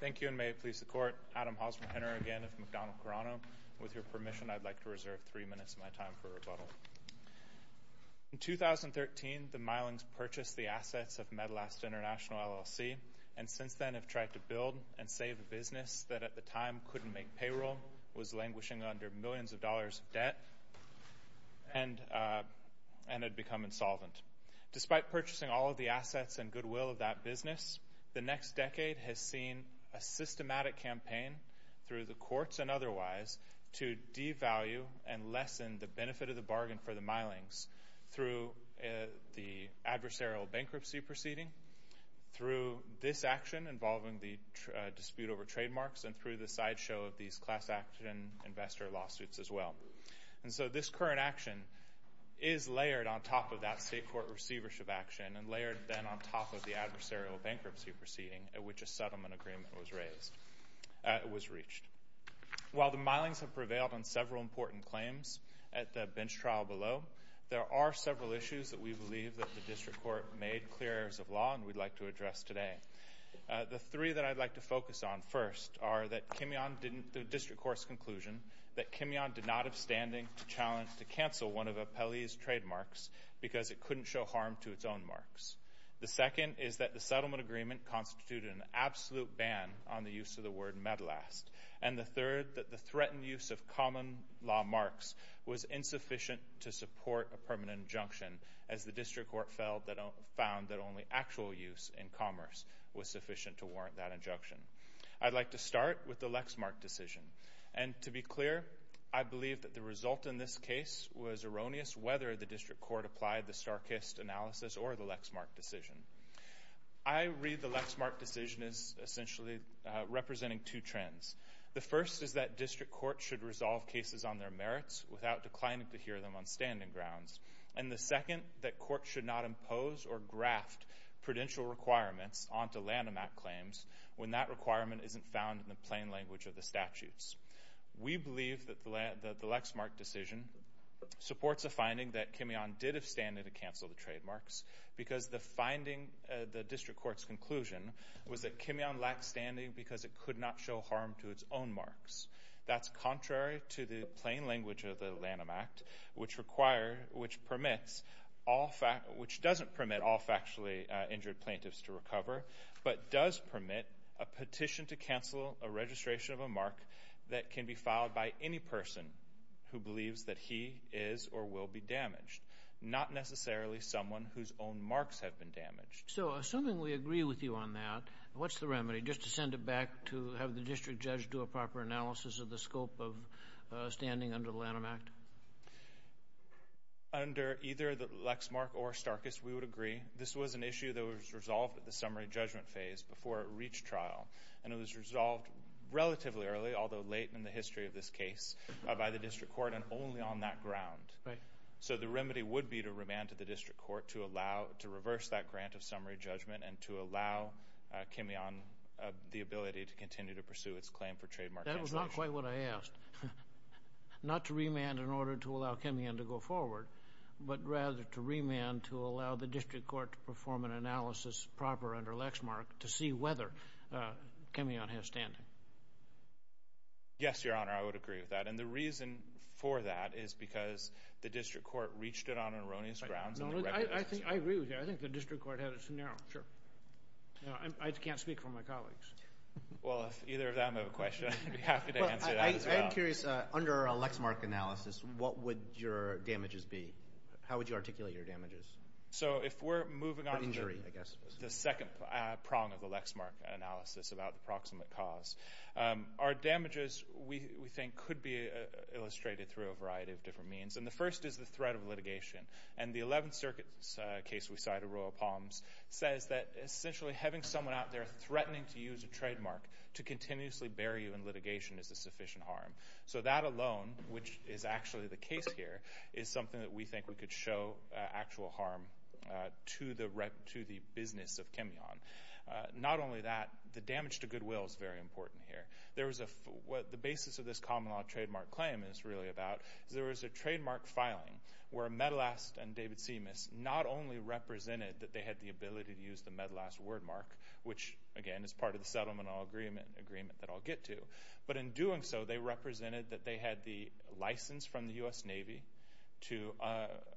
Thank you, and may it please the Court, Adam Hausmann Henner, again, of McDonnell-Coronado. With your permission, I'd like to reserve three minutes of my time for rebuttal. In 2013, the Meylings purchased the assets of Metalast International, LLC, and since then have tried to build and save a business that at the time couldn't make payroll, was languishing under millions of dollars of debt, and had become insolvent. Despite purchasing all of the assets and goodwill of that business, the next decade has seen a systematic campaign through the courts and otherwise to devalue and lessen the benefit of the bargain for the Meylings through the adversarial bankruptcy proceeding, through this action involving the dispute over trademarks, and through the sideshow of these class action investor lawsuits as well. And so this current action is layered on top of that state court receivership action and layered then on top of the adversarial bankruptcy proceeding at which a settlement agreement was reached. While the Meylings have prevailed on several important claims at the bench trial below, there are several issues that we believe that the district court made clear as of law and we'd like to address today. The three that I'd like to focus on first are the district court's conclusion that Kimyon did not have standing to cancel one of Apelli's trademarks because it couldn't show harm to its own marks. The second is that the settlement agreement constituted an absolute ban on the use of the word MEDLAST. And the third, that the threatened use of common law marks was insufficient to support a permanent injunction, as the district court found that only actual use in commerce was sufficient to warrant that injunction. I'd like to start with the Lexmark decision. And to be clear, I believe that the result in this case was erroneous whether the district court applied the Starkist analysis or the Lexmark decision. I read the Lexmark decision as essentially representing two trends. The first is that district courts should resolve cases on their merits without declining to hear them on standing grounds. And the second, that courts should not impose or graft prudential requirements onto Lanham Act claims when that requirement isn't found in the plain language of the statutes. We believe that the Lexmark decision supports a finding that Kimeon did have standing to cancel the trademarks because the finding of the district court's conclusion was that Kimeon lacked standing because it could not show harm to its own marks. That's contrary to the plain language of the Lanham Act, which doesn't permit all factually injured plaintiffs to recover, but does permit a petition to cancel a registration of a mark that can be filed by any person who believes that he is or will be damaged, not necessarily someone whose own marks have been damaged. So assuming we agree with you on that, what's the remedy? Just to send it back to have the district judge do a proper analysis of the scope of standing under the Lanham Act? Under either the Lexmark or Starkist, we would agree. This was an issue that was resolved at the summary judgment phase before it reached trial, and it was resolved relatively early, although late in the history of this case, by the district court, and only on that ground. So the remedy would be to remand to the district court to reverse that grant of summary judgment and to allow Kimeon the ability to continue to pursue its claim for trademark cancellation. That was not quite what I asked. Not to remand in order to allow Kimeon to go forward, but rather to remand to allow the district court to perform an analysis proper under Lexmark to see whether Kimeon has standing. Yes, Your Honor, I would agree with that. And the reason for that is because the district court reached it on erroneous grounds. I agree with you. I think the district court had its scenario. I can't speak for my colleagues. Well, if either of them have a question, I'd be happy to answer that as well. I'm curious, under a Lexmark analysis, what would your damages be? How would you articulate your damages? So if we're moving on to the second prong of the Lexmark analysis about the proximate cause, our damages, we think, could be illustrated through a variety of different means. And the first is the threat of litigation. And the Eleventh Circuit's case we cited, Royal Palms, says that essentially having someone out there threatening to use a trademark to continuously bury you in litigation is a sufficient harm. So that alone, which is actually the case here, is something that we think we could show actual harm to the business of Kimeon. Not only that, the damage to goodwill is very important here. What the basis of this common law trademark claim is really about is there was a trademark filing where Medelast and David Simas not only represented that they had the ability to use the Medelast wordmark, which, again, is part of the settlement agreement that I'll get to. But in doing so, they represented that they had the license from the U.S. Navy,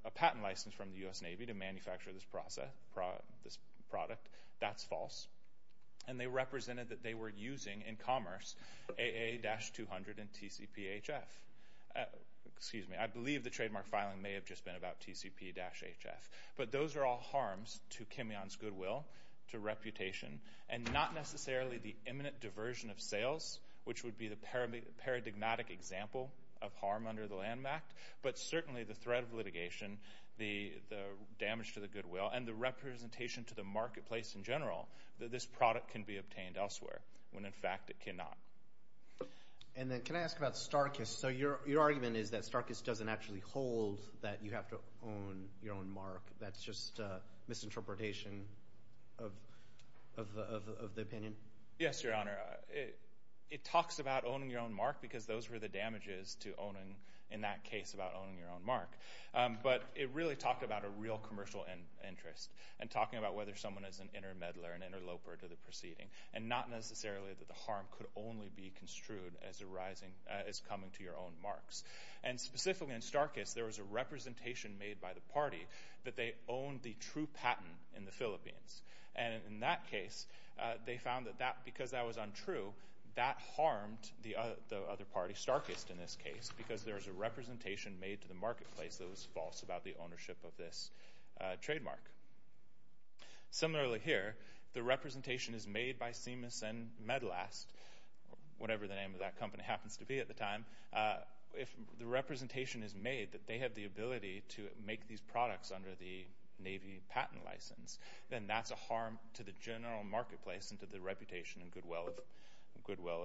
a patent license from the U.S. Navy, to manufacture this product. That's false. And they represented that they were using, in commerce, AA-200 and TCP-HF. I believe the trademark filing may have just been about TCP-HF. But those are all harms to Kimeon's goodwill, to reputation, and not necessarily the imminent diversion of sales, which would be the paradigmatic example of harm under the Land Act, but certainly the threat of litigation, the damage to the goodwill, and the representation to the marketplace in general that this product can be obtained elsewhere, when, in fact, it cannot. Can I ask about Starkist? So your argument is that Starkist doesn't actually hold that you have to own your own mark. That's just a misinterpretation of the opinion? Yes, Your Honor. It talks about owning your own mark because those were the damages to owning, in that case, about owning your own mark. But it really talked about a real commercial interest and talking about whether someone is an intermeddler, an interloper to the proceeding, and not necessarily that the harm could only be construed as coming to your own marks. And specifically in Starkist, there was a representation made by the party that they owned the true patent in the Philippines. And in that case, they found that because that was untrue, that harmed the other party, Starkist in this case, because there was a representation made to the marketplace that was false about the ownership of this trademark. Similarly here, the representation is made by Siemens and Medlast, whatever the name of that company happens to be at the time. If the representation is made that they have the ability to make these products under the Navy patent license, then that's a harm to the general marketplace and to the reputation and goodwill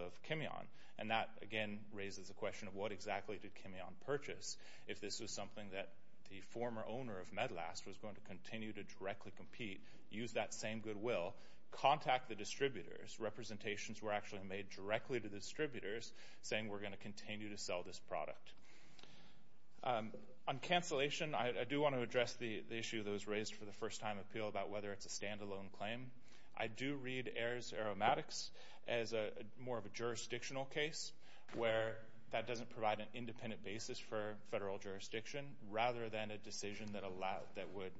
of Chimeon. And that, again, raises the question of what exactly did Chimeon purchase? If this was something that the former owner of Medlast was going to continue to directly compete, use that same goodwill, contact the distributors. Representations were actually made directly to the distributors, saying we're going to continue to sell this product. On cancellation, I do want to address the issue that was raised for the first time appeal about whether it's a standalone claim. I do read Ayers Aromatics as more of a jurisdictional case where that doesn't provide an independent basis for federal jurisdiction rather than a decision that would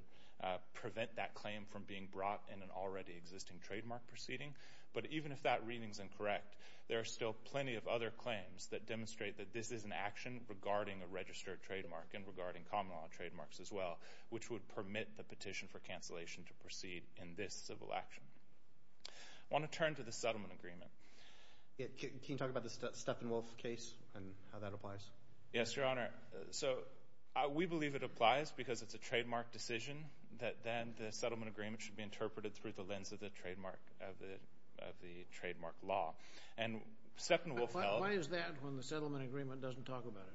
prevent that claim from being brought in an already existing trademark proceeding. But even if that reading is incorrect, there are still plenty of other claims that demonstrate that this is an action regarding a registered trademark and regarding common law trademarks as well, which would permit the petition for cancellation to proceed in this civil action. I want to turn to the settlement agreement. Can you talk about the Steppenwolf case and how that applies? Yes, Your Honor. We believe it applies because it's a trademark decision that then the settlement agreement should be interpreted through the lens of the trademark law. Why is that when the settlement agreement doesn't talk about it?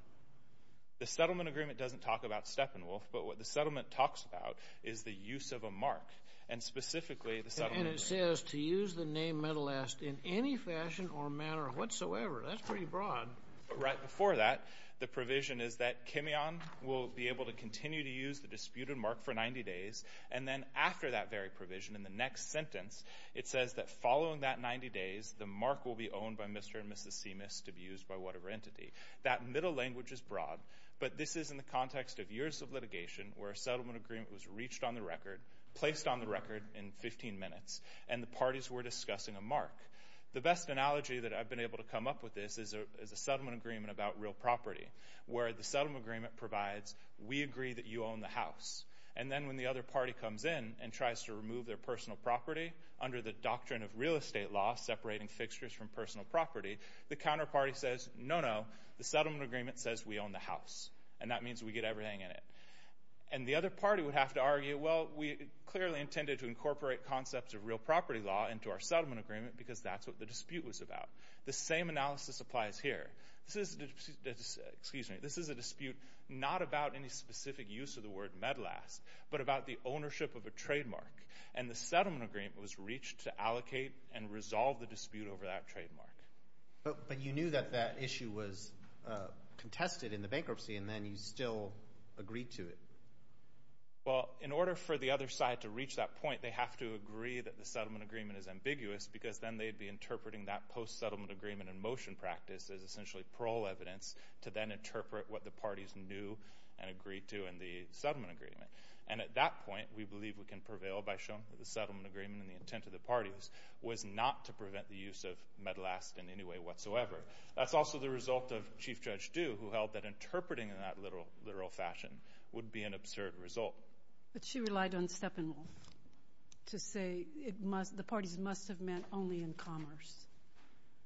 The settlement agreement doesn't talk about Steppenwolf, but what the settlement talks about is the use of a mark. And it says to use the name Metalast in any fashion or manner whatsoever. That's pretty broad. Right before that, the provision is that Kimeon will be able to continue to use the disputed mark for 90 days. And then after that very provision in the next sentence, it says that following that 90 days, the mark will be owned by Mr. and Mrs. Simas to be used by whatever entity. That middle language is broad, but this is in the context of years of litigation where a settlement agreement was reached on the record, placed on the record in 15 minutes, and the parties were discussing a mark. The best analogy that I've been able to come up with is a settlement agreement about real property where the settlement agreement provides, we agree that you own the house. And then when the other party comes in and tries to remove their personal property, under the doctrine of real estate law separating fixtures from personal property, the counterparty says, no, no, the settlement agreement says we own the house. And that means we get everything in it. And the other party would have to argue, well, we clearly intended to incorporate concepts of real property law into our settlement agreement because that's what the dispute was about. The same analysis applies here. This is a dispute not about any specific use of the word MEDLAS, but about the ownership of a trademark. But you knew that that issue was contested in the bankruptcy, and then you still agreed to it. Well, in order for the other side to reach that point, they have to agree that the settlement agreement is ambiguous because then they'd be interpreting that post-settlement agreement in motion practice as essentially parole evidence to then interpret what the parties knew and agreed to in the settlement agreement. And at that point, we believe we can prevail by showing that the settlement agreement and the intent of the parties was not to prevent the use of MEDLAS in any way whatsoever. That's also the result of Chief Judge Due, who held that interpreting in that literal fashion would be an absurd result. But she relied on Steppenwolf to say the parties must have met only in commerce.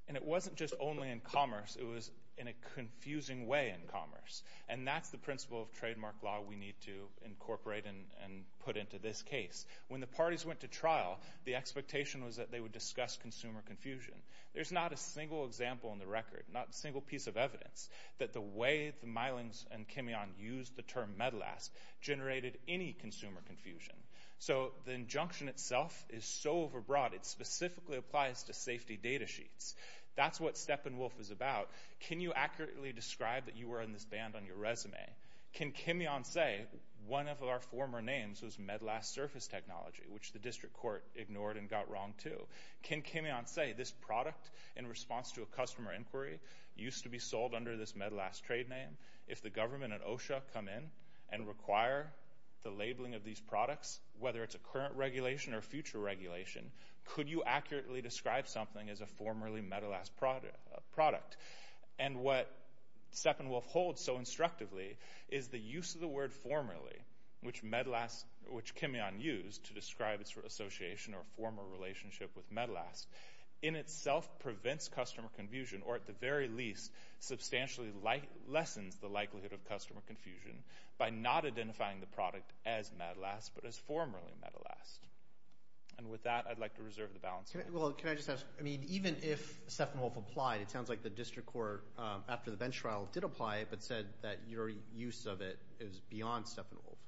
And it wasn't just only in commerce. It was in a confusing way in commerce. And that's the principle of trademark law we need to incorporate and put into this case. When the parties went to trial, the expectation was that they would discuss consumer confusion. There's not a single example in the record, not a single piece of evidence, that the way the Mylings and Kimeon used the term MEDLAS generated any consumer confusion. So the injunction itself is so overbroad, it specifically applies to safety data sheets. That's what Steppenwolf is about. Can you accurately describe that you were in this band on your resume? Can Kimeon say one of our former names was MEDLAS Surface Technology, which the district court ignored and got wrong, too? Can Kimeon say this product, in response to a customer inquiry, used to be sold under this MEDLAS trade name? If the government and OSHA come in and require the labeling of these products, whether it's a current regulation or a future regulation, could you accurately describe something as a formerly MEDLAS product? What Steppenwolf holds so instructively is the use of the word formerly, which Kimeon used to describe its association or former relationship with MEDLAS, in itself prevents customer confusion or, at the very least, substantially lessens the likelihood of customer confusion by not identifying the product as MEDLAS but as formerly MEDLAS. With that, I'd like to reserve the balance. Can I just ask, even if Steppenwolf applied, it sounds like the district court, after the bench trial, did apply it but said that your use of it is beyond Steppenwolf.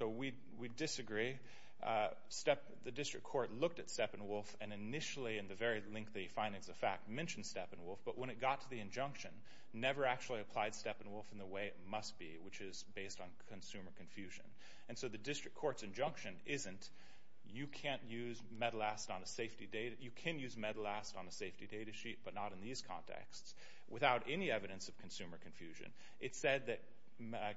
We disagree. The district court looked at Steppenwolf and initially, in the very lengthy findings of fact, mentioned Steppenwolf, but when it got to the injunction, never actually applied Steppenwolf in the way it must be, which is based on consumer confusion. And so the district court's injunction isn't, you can't use MEDLAS on a safety data sheet. You can use MEDLAS on a safety data sheet, but not in these contexts, without any evidence of consumer confusion. It said that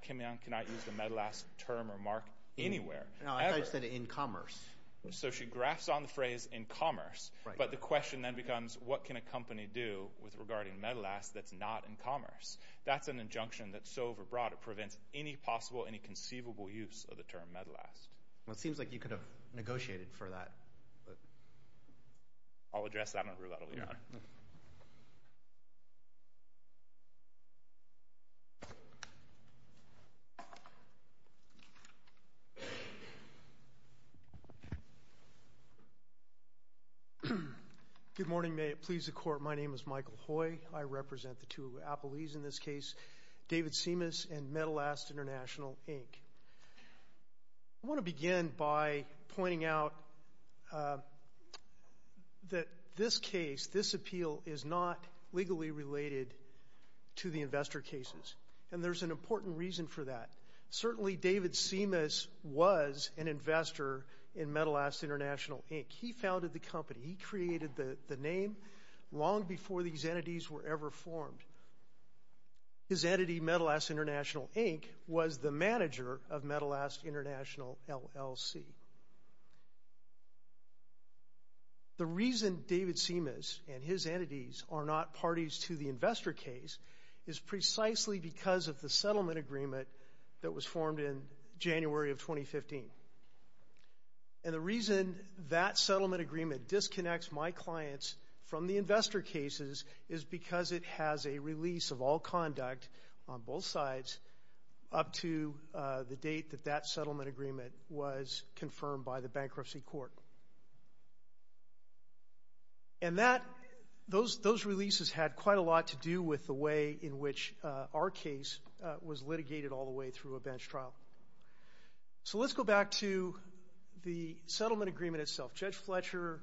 Kimeon cannot use the MEDLAS term or mark anywhere, ever. No, I said in commerce. So she graphs on the phrase in commerce, but the question then becomes what can a company do regarding MEDLAS that's not in commerce? That's an injunction that's so overbroad, it prevents any possible, any conceivable use of the term MEDLAS. Well, it seems like you could have negotiated for that. I'll address that in a little bit, Your Honor. Good morning. May it please the Court. My name is Michael Hoy. I represent the two appellees in this case, David Simas and MEDLAS International, Inc. I want to begin by pointing out that this case, this appeal, is not legally related to the investor cases, and there's an important reason for that. Certainly David Simas was an investor in MEDLAS International, Inc. He founded the company. He created the name long before these entities were ever formed. His entity, MEDLAS International, Inc., was the manager of MEDLAS International, LLC. The reason David Simas and his entities are not parties to the investor case is precisely because of the settlement agreement that was formed in January of 2015. And the reason that settlement agreement disconnects my clients from the investor cases is because it has a release of all conduct on both sides up to the date that that settlement agreement was confirmed by the bankruptcy court. And those releases had quite a lot to do with the way in which our case was litigated all the way through a bench trial. So let's go back to the settlement agreement itself. Judge Fletcher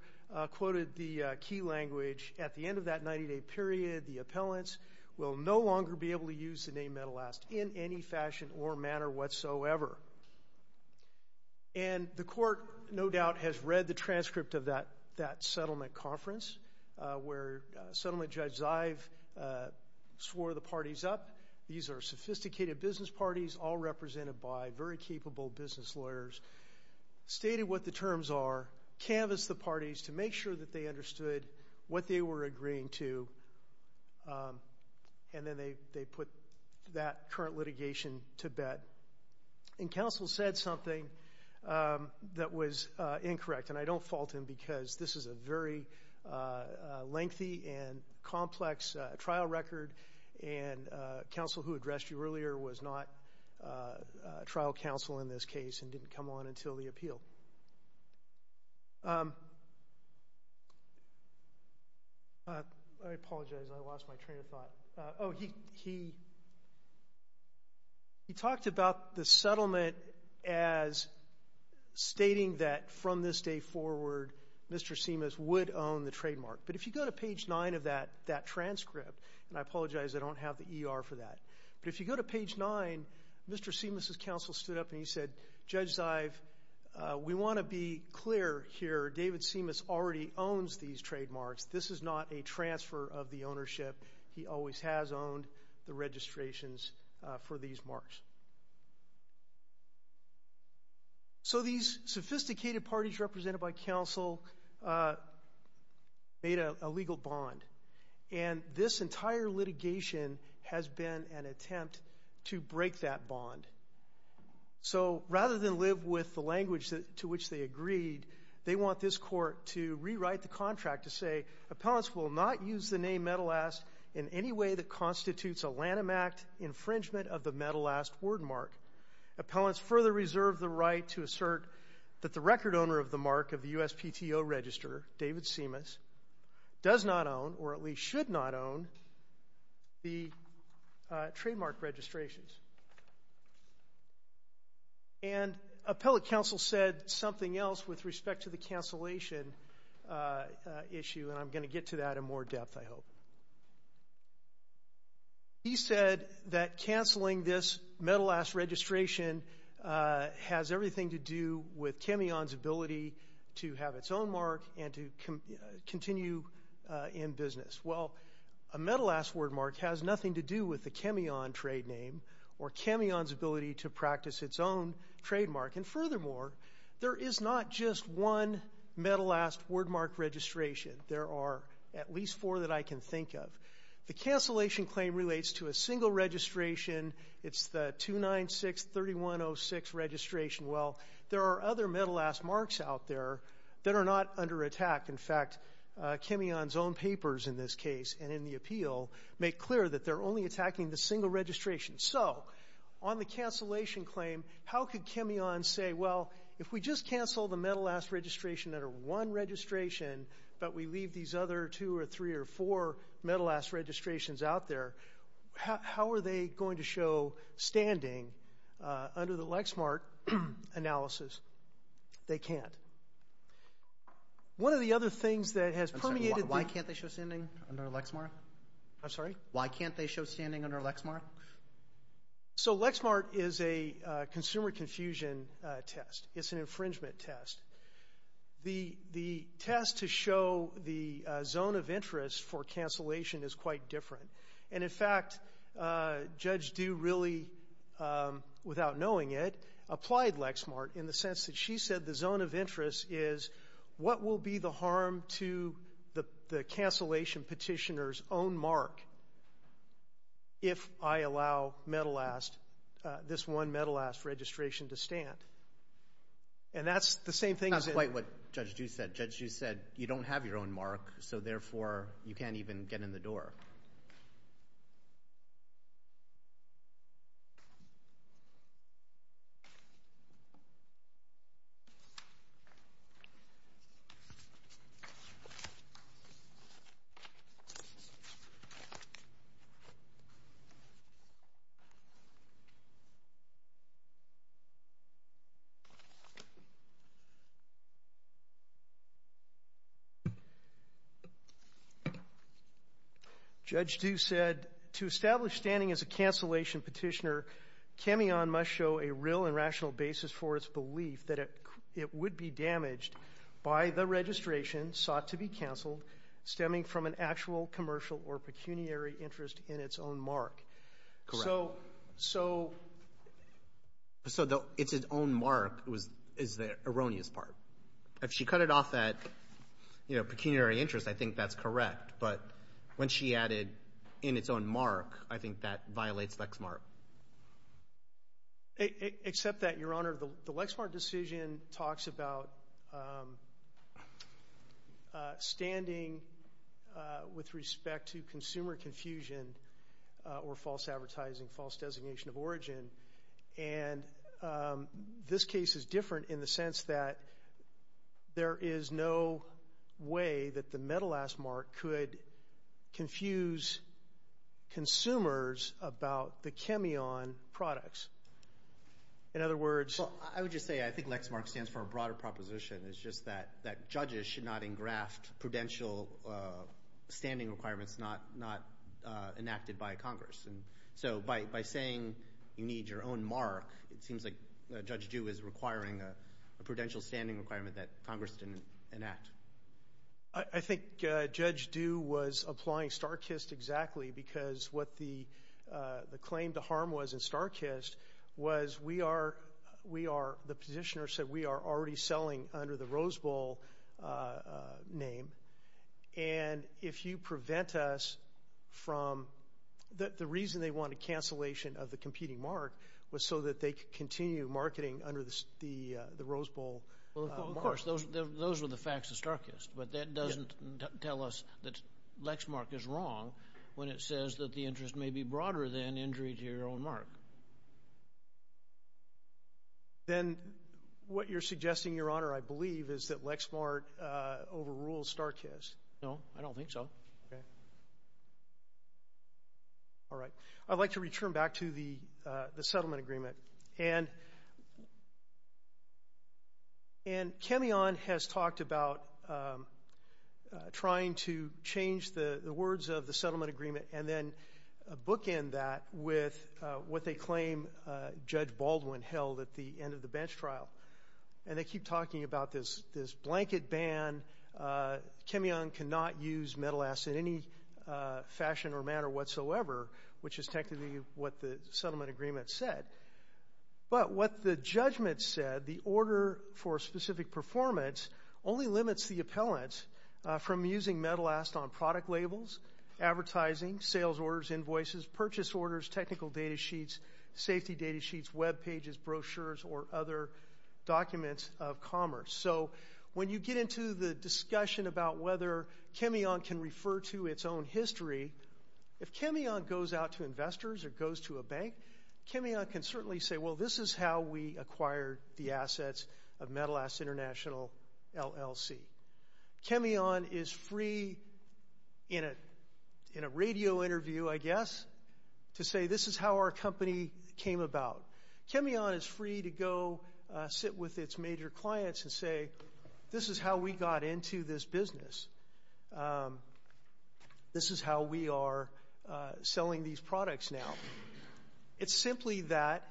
quoted the key language. At the end of that 90-day period, the appellants will no longer be able to use the name MEDLAS in any fashion or manner whatsoever. And the court, no doubt, has read the transcript of that settlement conference where Settlement Judge Zive swore the parties up. These are sophisticated business parties all represented by very capable business lawyers. Stated what the terms are, canvassed the parties to make sure that they understood what they were agreeing to, and then they put that current litigation to bed. And counsel said something that was incorrect, and I don't fault him because this is a very lengthy and complex trial record and counsel who addressed you earlier was not trial counsel in this case and didn't come on until the appeal. I apologize, I lost my train of thought. Oh, he talked about the settlement as stating that from this day forward, Mr. Simas would own the trademark. But if you go to page 9 of that transcript, and I apologize, I don't have the ER for that, but if you go to page 9, Mr. Simas' counsel stood up and he said, Judge Zive, we want to be clear here, David Simas already owns these trademarks. This is not a transfer of the ownership. He always has owned the registrations for these marks. So these sophisticated parties represented by counsel made a legal bond, and this entire litigation has been an attempt to break that bond. So rather than live with the language to which they agreed, they want this court to rewrite the contract to say, Appellants will not use the name Metal Ask in any way that constitutes a Lanham Act infringement of the Metal Ask word mark. Appellants further reserve the right to assert that the record owner of the mark of the USPTO register, David Simas, does not own, or at least should not own, the trademark registrations. And appellate counsel said something else with respect to the cancellation issue, and I'm going to get to that in more depth, I hope. He said that canceling this Metal Ask registration has everything to do with Chemion's ability to have its own mark and to continue in business. Well, a Metal Ask word mark has nothing to do with the Chemion trade name or Chemion's ability to practice its own trademark. And furthermore, there is not just one Metal Ask word mark registration. There are at least four that I can think of. The cancellation claim relates to a single registration. It's the 296-3106 registration. Well, there are other Metal Ask marks out there that are not under attack. In fact, Chemion's own papers in this case and in the appeal make clear that they're only attacking the single registration. So on the cancellation claim, how could Chemion say, well, if we just cancel the Metal Ask registration under one registration, but we leave these other two or three or four Metal Ask registrations out there, how are they going to show standing under the Lexmark analysis? They can't. One of the other things that has permeated the... I'm sorry, why can't they show standing under Lexmark? I'm sorry? Why can't they show standing under Lexmark? So Lexmark is a consumer confusion test. It's an infringement test. The test to show the zone of interest for cancellation is quite different. And, in fact, Judge Due really, without knowing it, applied Lexmark in the sense that she said the zone of interest is, what will be the harm to the cancellation petitioner's own mark if I allow this one Metal Ask registration to stand? And that's the same thing as in... That's quite what Judge Due said. You don't have your own mark, so, therefore, you can't even get in the door. Judge Due said, to establish standing as a cancellation petitioner, Cameon must show a real and rational basis for its belief that it would be damaged by the registration sought to be canceled stemming from an actual commercial or pecuniary interest in its own mark. Correct. So... So it's its own mark is the erroneous part. If she cut it off that, you know, pecuniary interest, I think that's correct. But when she added in its own mark, I think that violates Lexmark. Except that, Your Honor, the Lexmark decision talks about standing with respect to consumer confusion or false advertising, false designation of origin. And this case is different in the sense that there is no way that the Metal Ask mark could confuse consumers about the Cameon products. In other words... Well, I would just say I think Lexmark stands for a broader proposition. It's just that judges should not engraft prudential standing requirements not enacted by Congress. And so by saying you need your own mark, it seems like Judge Due is requiring a prudential standing requirement that Congress didn't enact. I think Judge Due was applying Starkist exactly because what the claim to harm was in Starkist was we are, the petitioner said we are already selling under the Rose Bowl name. And if you prevent us from, the reason they wanted cancellation of the competing mark was so that they could continue marketing under the Rose Bowl mark. Well, of course, those were the facts of Starkist, but that doesn't tell us that Lexmark is wrong when it says that the interest may be broader than injury to your own mark. Then what you're suggesting, Your Honor, I believe is that Lexmark overrules Starkist. No, I don't think so. Okay. All right. I'd like to return back to the settlement agreement. And Cameon has talked about trying to change the words of the settlement agreement and then bookend that with what they claim Judge Baldwin held at the end of the bench trial. And they keep talking about this blanket ban. Cameon cannot use Metalast in any fashion or manner whatsoever, which is technically what the settlement agreement said. But what the judgment said, the order for specific performance only limits the appellants from using Metalast on product labels, advertising, sales orders, invoices, purchase orders, technical data sheets, safety data sheets, Web pages, brochures, or other documents of commerce. So when you get into the discussion about whether Cameon can refer to its own history, if Cameon goes out to investors or goes to a bank, Cameon can certainly say, well, this is how we acquired the assets of Metalast International LLC. Cameon is free in a radio interview, I guess, to say this is how our company came about. Cameon is free to go sit with its major clients and say, this is how we got into this business. This is how we are selling these products now. It's simply that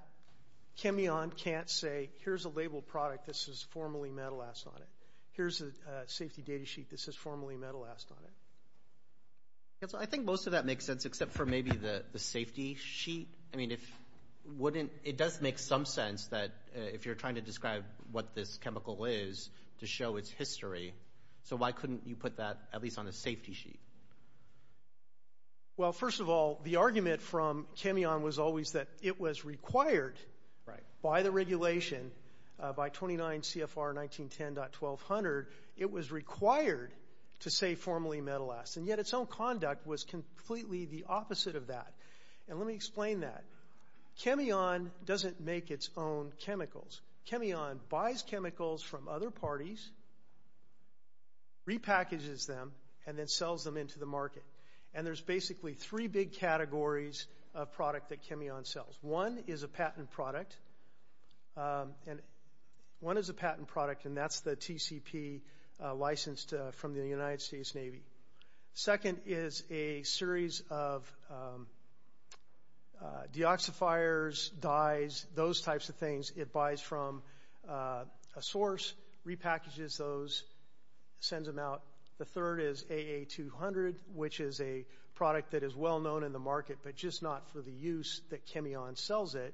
Cameon can't say, here's a labeled product. This is formally Metalast on it. Here's a safety data sheet. This is formally Metalast on it. I think most of that makes sense except for maybe the safety sheet. It does make some sense that if you're trying to describe what this chemical is to show its history, so why couldn't you put that at least on a safety sheet? Well, first of all, the argument from Cameon was always that it was required by the regulation, by 29 CFR 1910.1200, it was required to say formally Metalast. And yet its own conduct was completely the opposite of that. And let me explain that. Cameon doesn't make its own chemicals. Cameon buys chemicals from other parties, repackages them, and then sells them into the market. And there's basically three big categories of product that Cameon sells. One is a patent product, and that's the TCP licensed from the United States Navy. Second is a series of deoxifiers, dyes, those types of things. It buys from a source, repackages those, sends them out. The third is AA200, which is a product that is well known in the market, but just not for the use that Cameon sells it.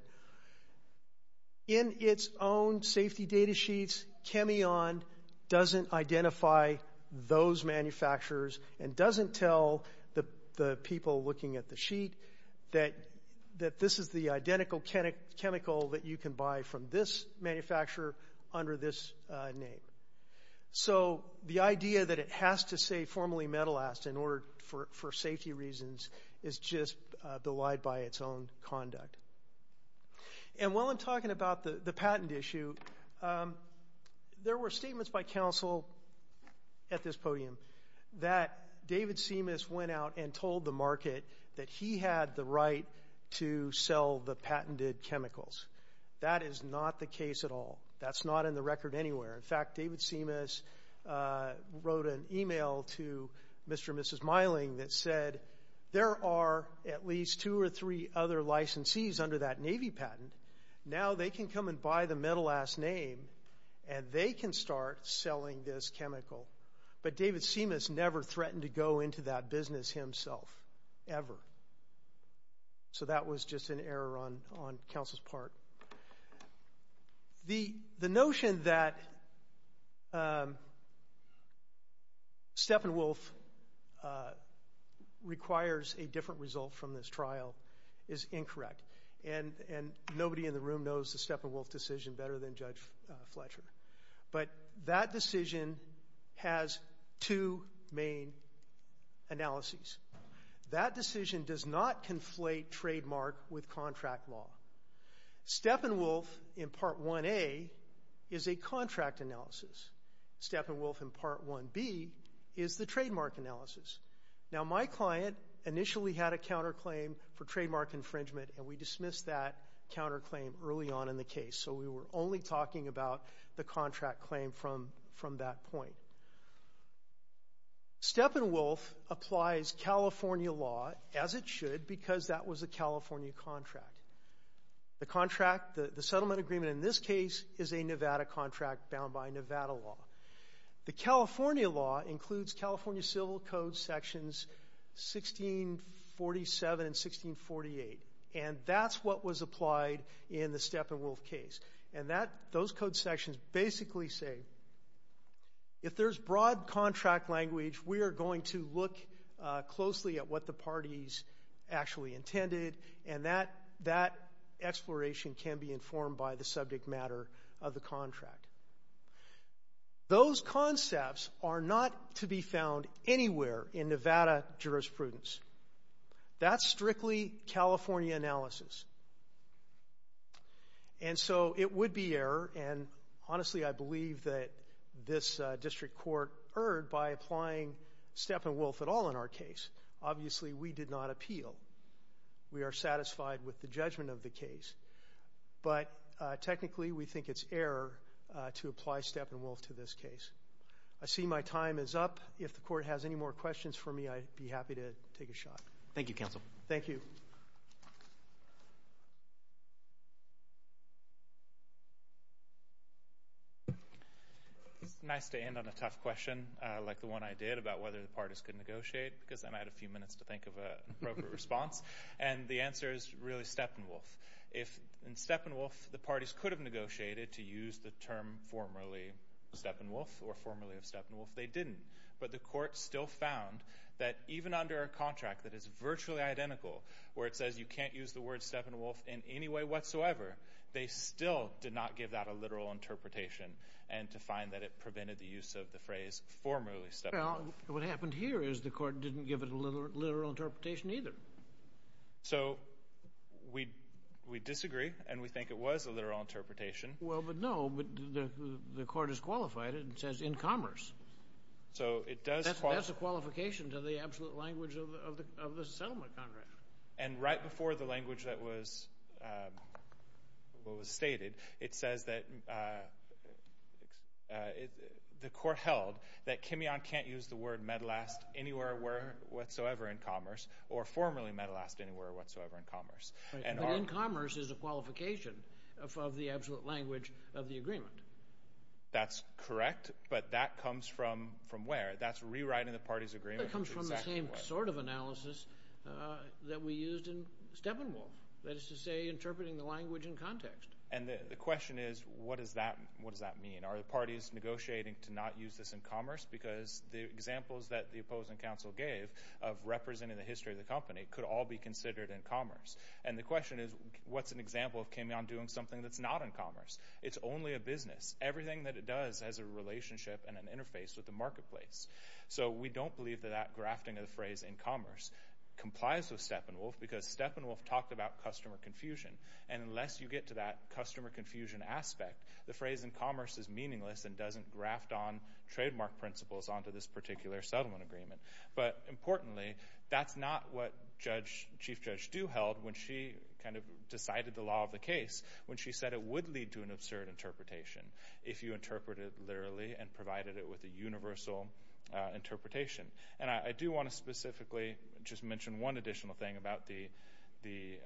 In its own safety data sheets, Cameon doesn't identify those manufacturers and doesn't tell the people looking at the sheet that this is the identical chemical that you can buy from this manufacturer under this name. So the idea that it has to say formally Metalast for safety reasons is just belied by its own conduct. And while I'm talking about the patent issue, there were statements by counsel at this podium that David Simas went out and told the market that he had the right to sell the patented chemicals. That is not the case at all. That's not in the record anywhere. In fact, David Simas wrote an email to Mr. and Mrs. Meiling that said, there are at least two or three other licensees under that Navy patent. Now they can come and buy the Metalast name, and they can start selling this chemical. But David Simas never threatened to go into that business himself, ever. So that was just an error on counsel's part. The notion that Steppenwolf requires a different result from this trial is incorrect, and nobody in the room knows the Steppenwolf decision better than Judge Fletcher. But that decision has two main analyses. That decision does not conflate trademark with contract law. Steppenwolf in Part 1A is a contract analysis. Steppenwolf in Part 1B is the trademark analysis. Now my client initially had a counterclaim for trademark infringement, and we dismissed that counterclaim early on in the case. So we were only talking about the contract claim from that point. Steppenwolf applies California law as it should because that was a California contract. The contract, the settlement agreement in this case, is a Nevada contract bound by Nevada law. The California law includes California Civil Code Sections 1647 and 1648, and that's what was applied in the Steppenwolf case. And those code sections basically say if there's broad contract language, we are going to look closely at what the parties actually intended, and that exploration can be informed by the subject matter of the contract. Those concepts are not to be found anywhere in Nevada jurisprudence. That's strictly California analysis. And so it would be error, and honestly I believe that this district court erred by applying Steppenwolf at all in our case. Obviously we did not appeal. We are satisfied with the judgment of the case. But technically we think it's error to apply Steppenwolf to this case. I see my time is up. If the court has any more questions for me, I'd be happy to take a shot. Thank you, Counsel. Thank you. It's nice to end on a tough question like the one I did about whether the parties could negotiate because then I had a few minutes to think of an appropriate response, and the answer is really Steppenwolf. In Steppenwolf, the parties could have negotiated to use the term formerly Steppenwolf or formerly of Steppenwolf. They didn't. But the court still found that even under a contract that is virtually identical where it says you can't use the word Steppenwolf in any way whatsoever, they still did not give that a literal interpretation and to find that it prevented the use of the phrase formerly Steppenwolf. Well, what happened here is the court didn't give it a literal interpretation either. So we disagree and we think it was a literal interpretation. Well, but no. The court has qualified it and it says in commerce. So it does qualify. That's a qualification to the absolute language of the settlement contract. And right before the language that was stated, it says that the court held that Kimeon can't use the word Medelast But in commerce is a qualification of the absolute language of the agreement. That's correct, but that comes from where? That's rewriting the party's agreement. It comes from the same sort of analysis that we used in Steppenwolf, that is to say interpreting the language in context. And the question is what does that mean? Are the parties negotiating to not use this in commerce because the examples that the opposing counsel gave of representing the history of the company could all be considered in commerce? And the question is what's an example of Kimeon doing something that's not in commerce? It's only a business. Everything that it does has a relationship and an interface with the marketplace. So we don't believe that that grafting of the phrase in commerce complies with Steppenwolf because Steppenwolf talked about customer confusion. And unless you get to that customer confusion aspect, the phrase in commerce is meaningless and doesn't graft on trademark principles onto this particular settlement agreement. But importantly, that's not what Chief Judge Stu held when she kind of decided the law of the case when she said it would lead to an absurd interpretation if you interpreted it literally and provided it with a universal interpretation. And I do want to specifically just mention one additional thing about the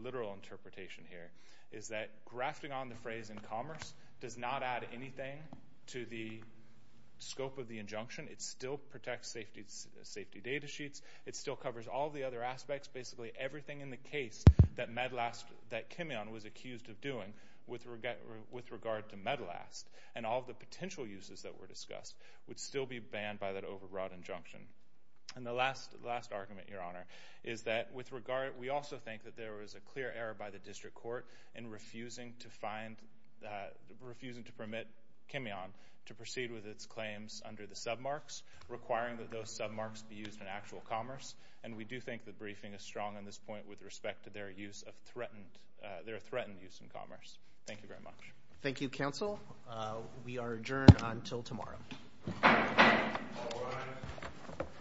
literal interpretation here, is that grafting on the phrase in commerce does not add anything to the scope of the injunction. It still protects safety data sheets. It still covers all the other aspects, basically everything in the case that Kimeon was accused of doing with regard to Medelast and all of the potential uses that were discussed would still be banned by that overbroad injunction. And the last argument, Your Honor, is that we also think that there was a clear error by the district court in refusing to permit Kimeon to proceed with its claims under the submarks, requiring that those submarks be used in actual commerce. And we do think the briefing is strong on this point with respect to their threatened use in commerce. Thank you very much. Thank you, counsel. We are adjourned until tomorrow. All rise.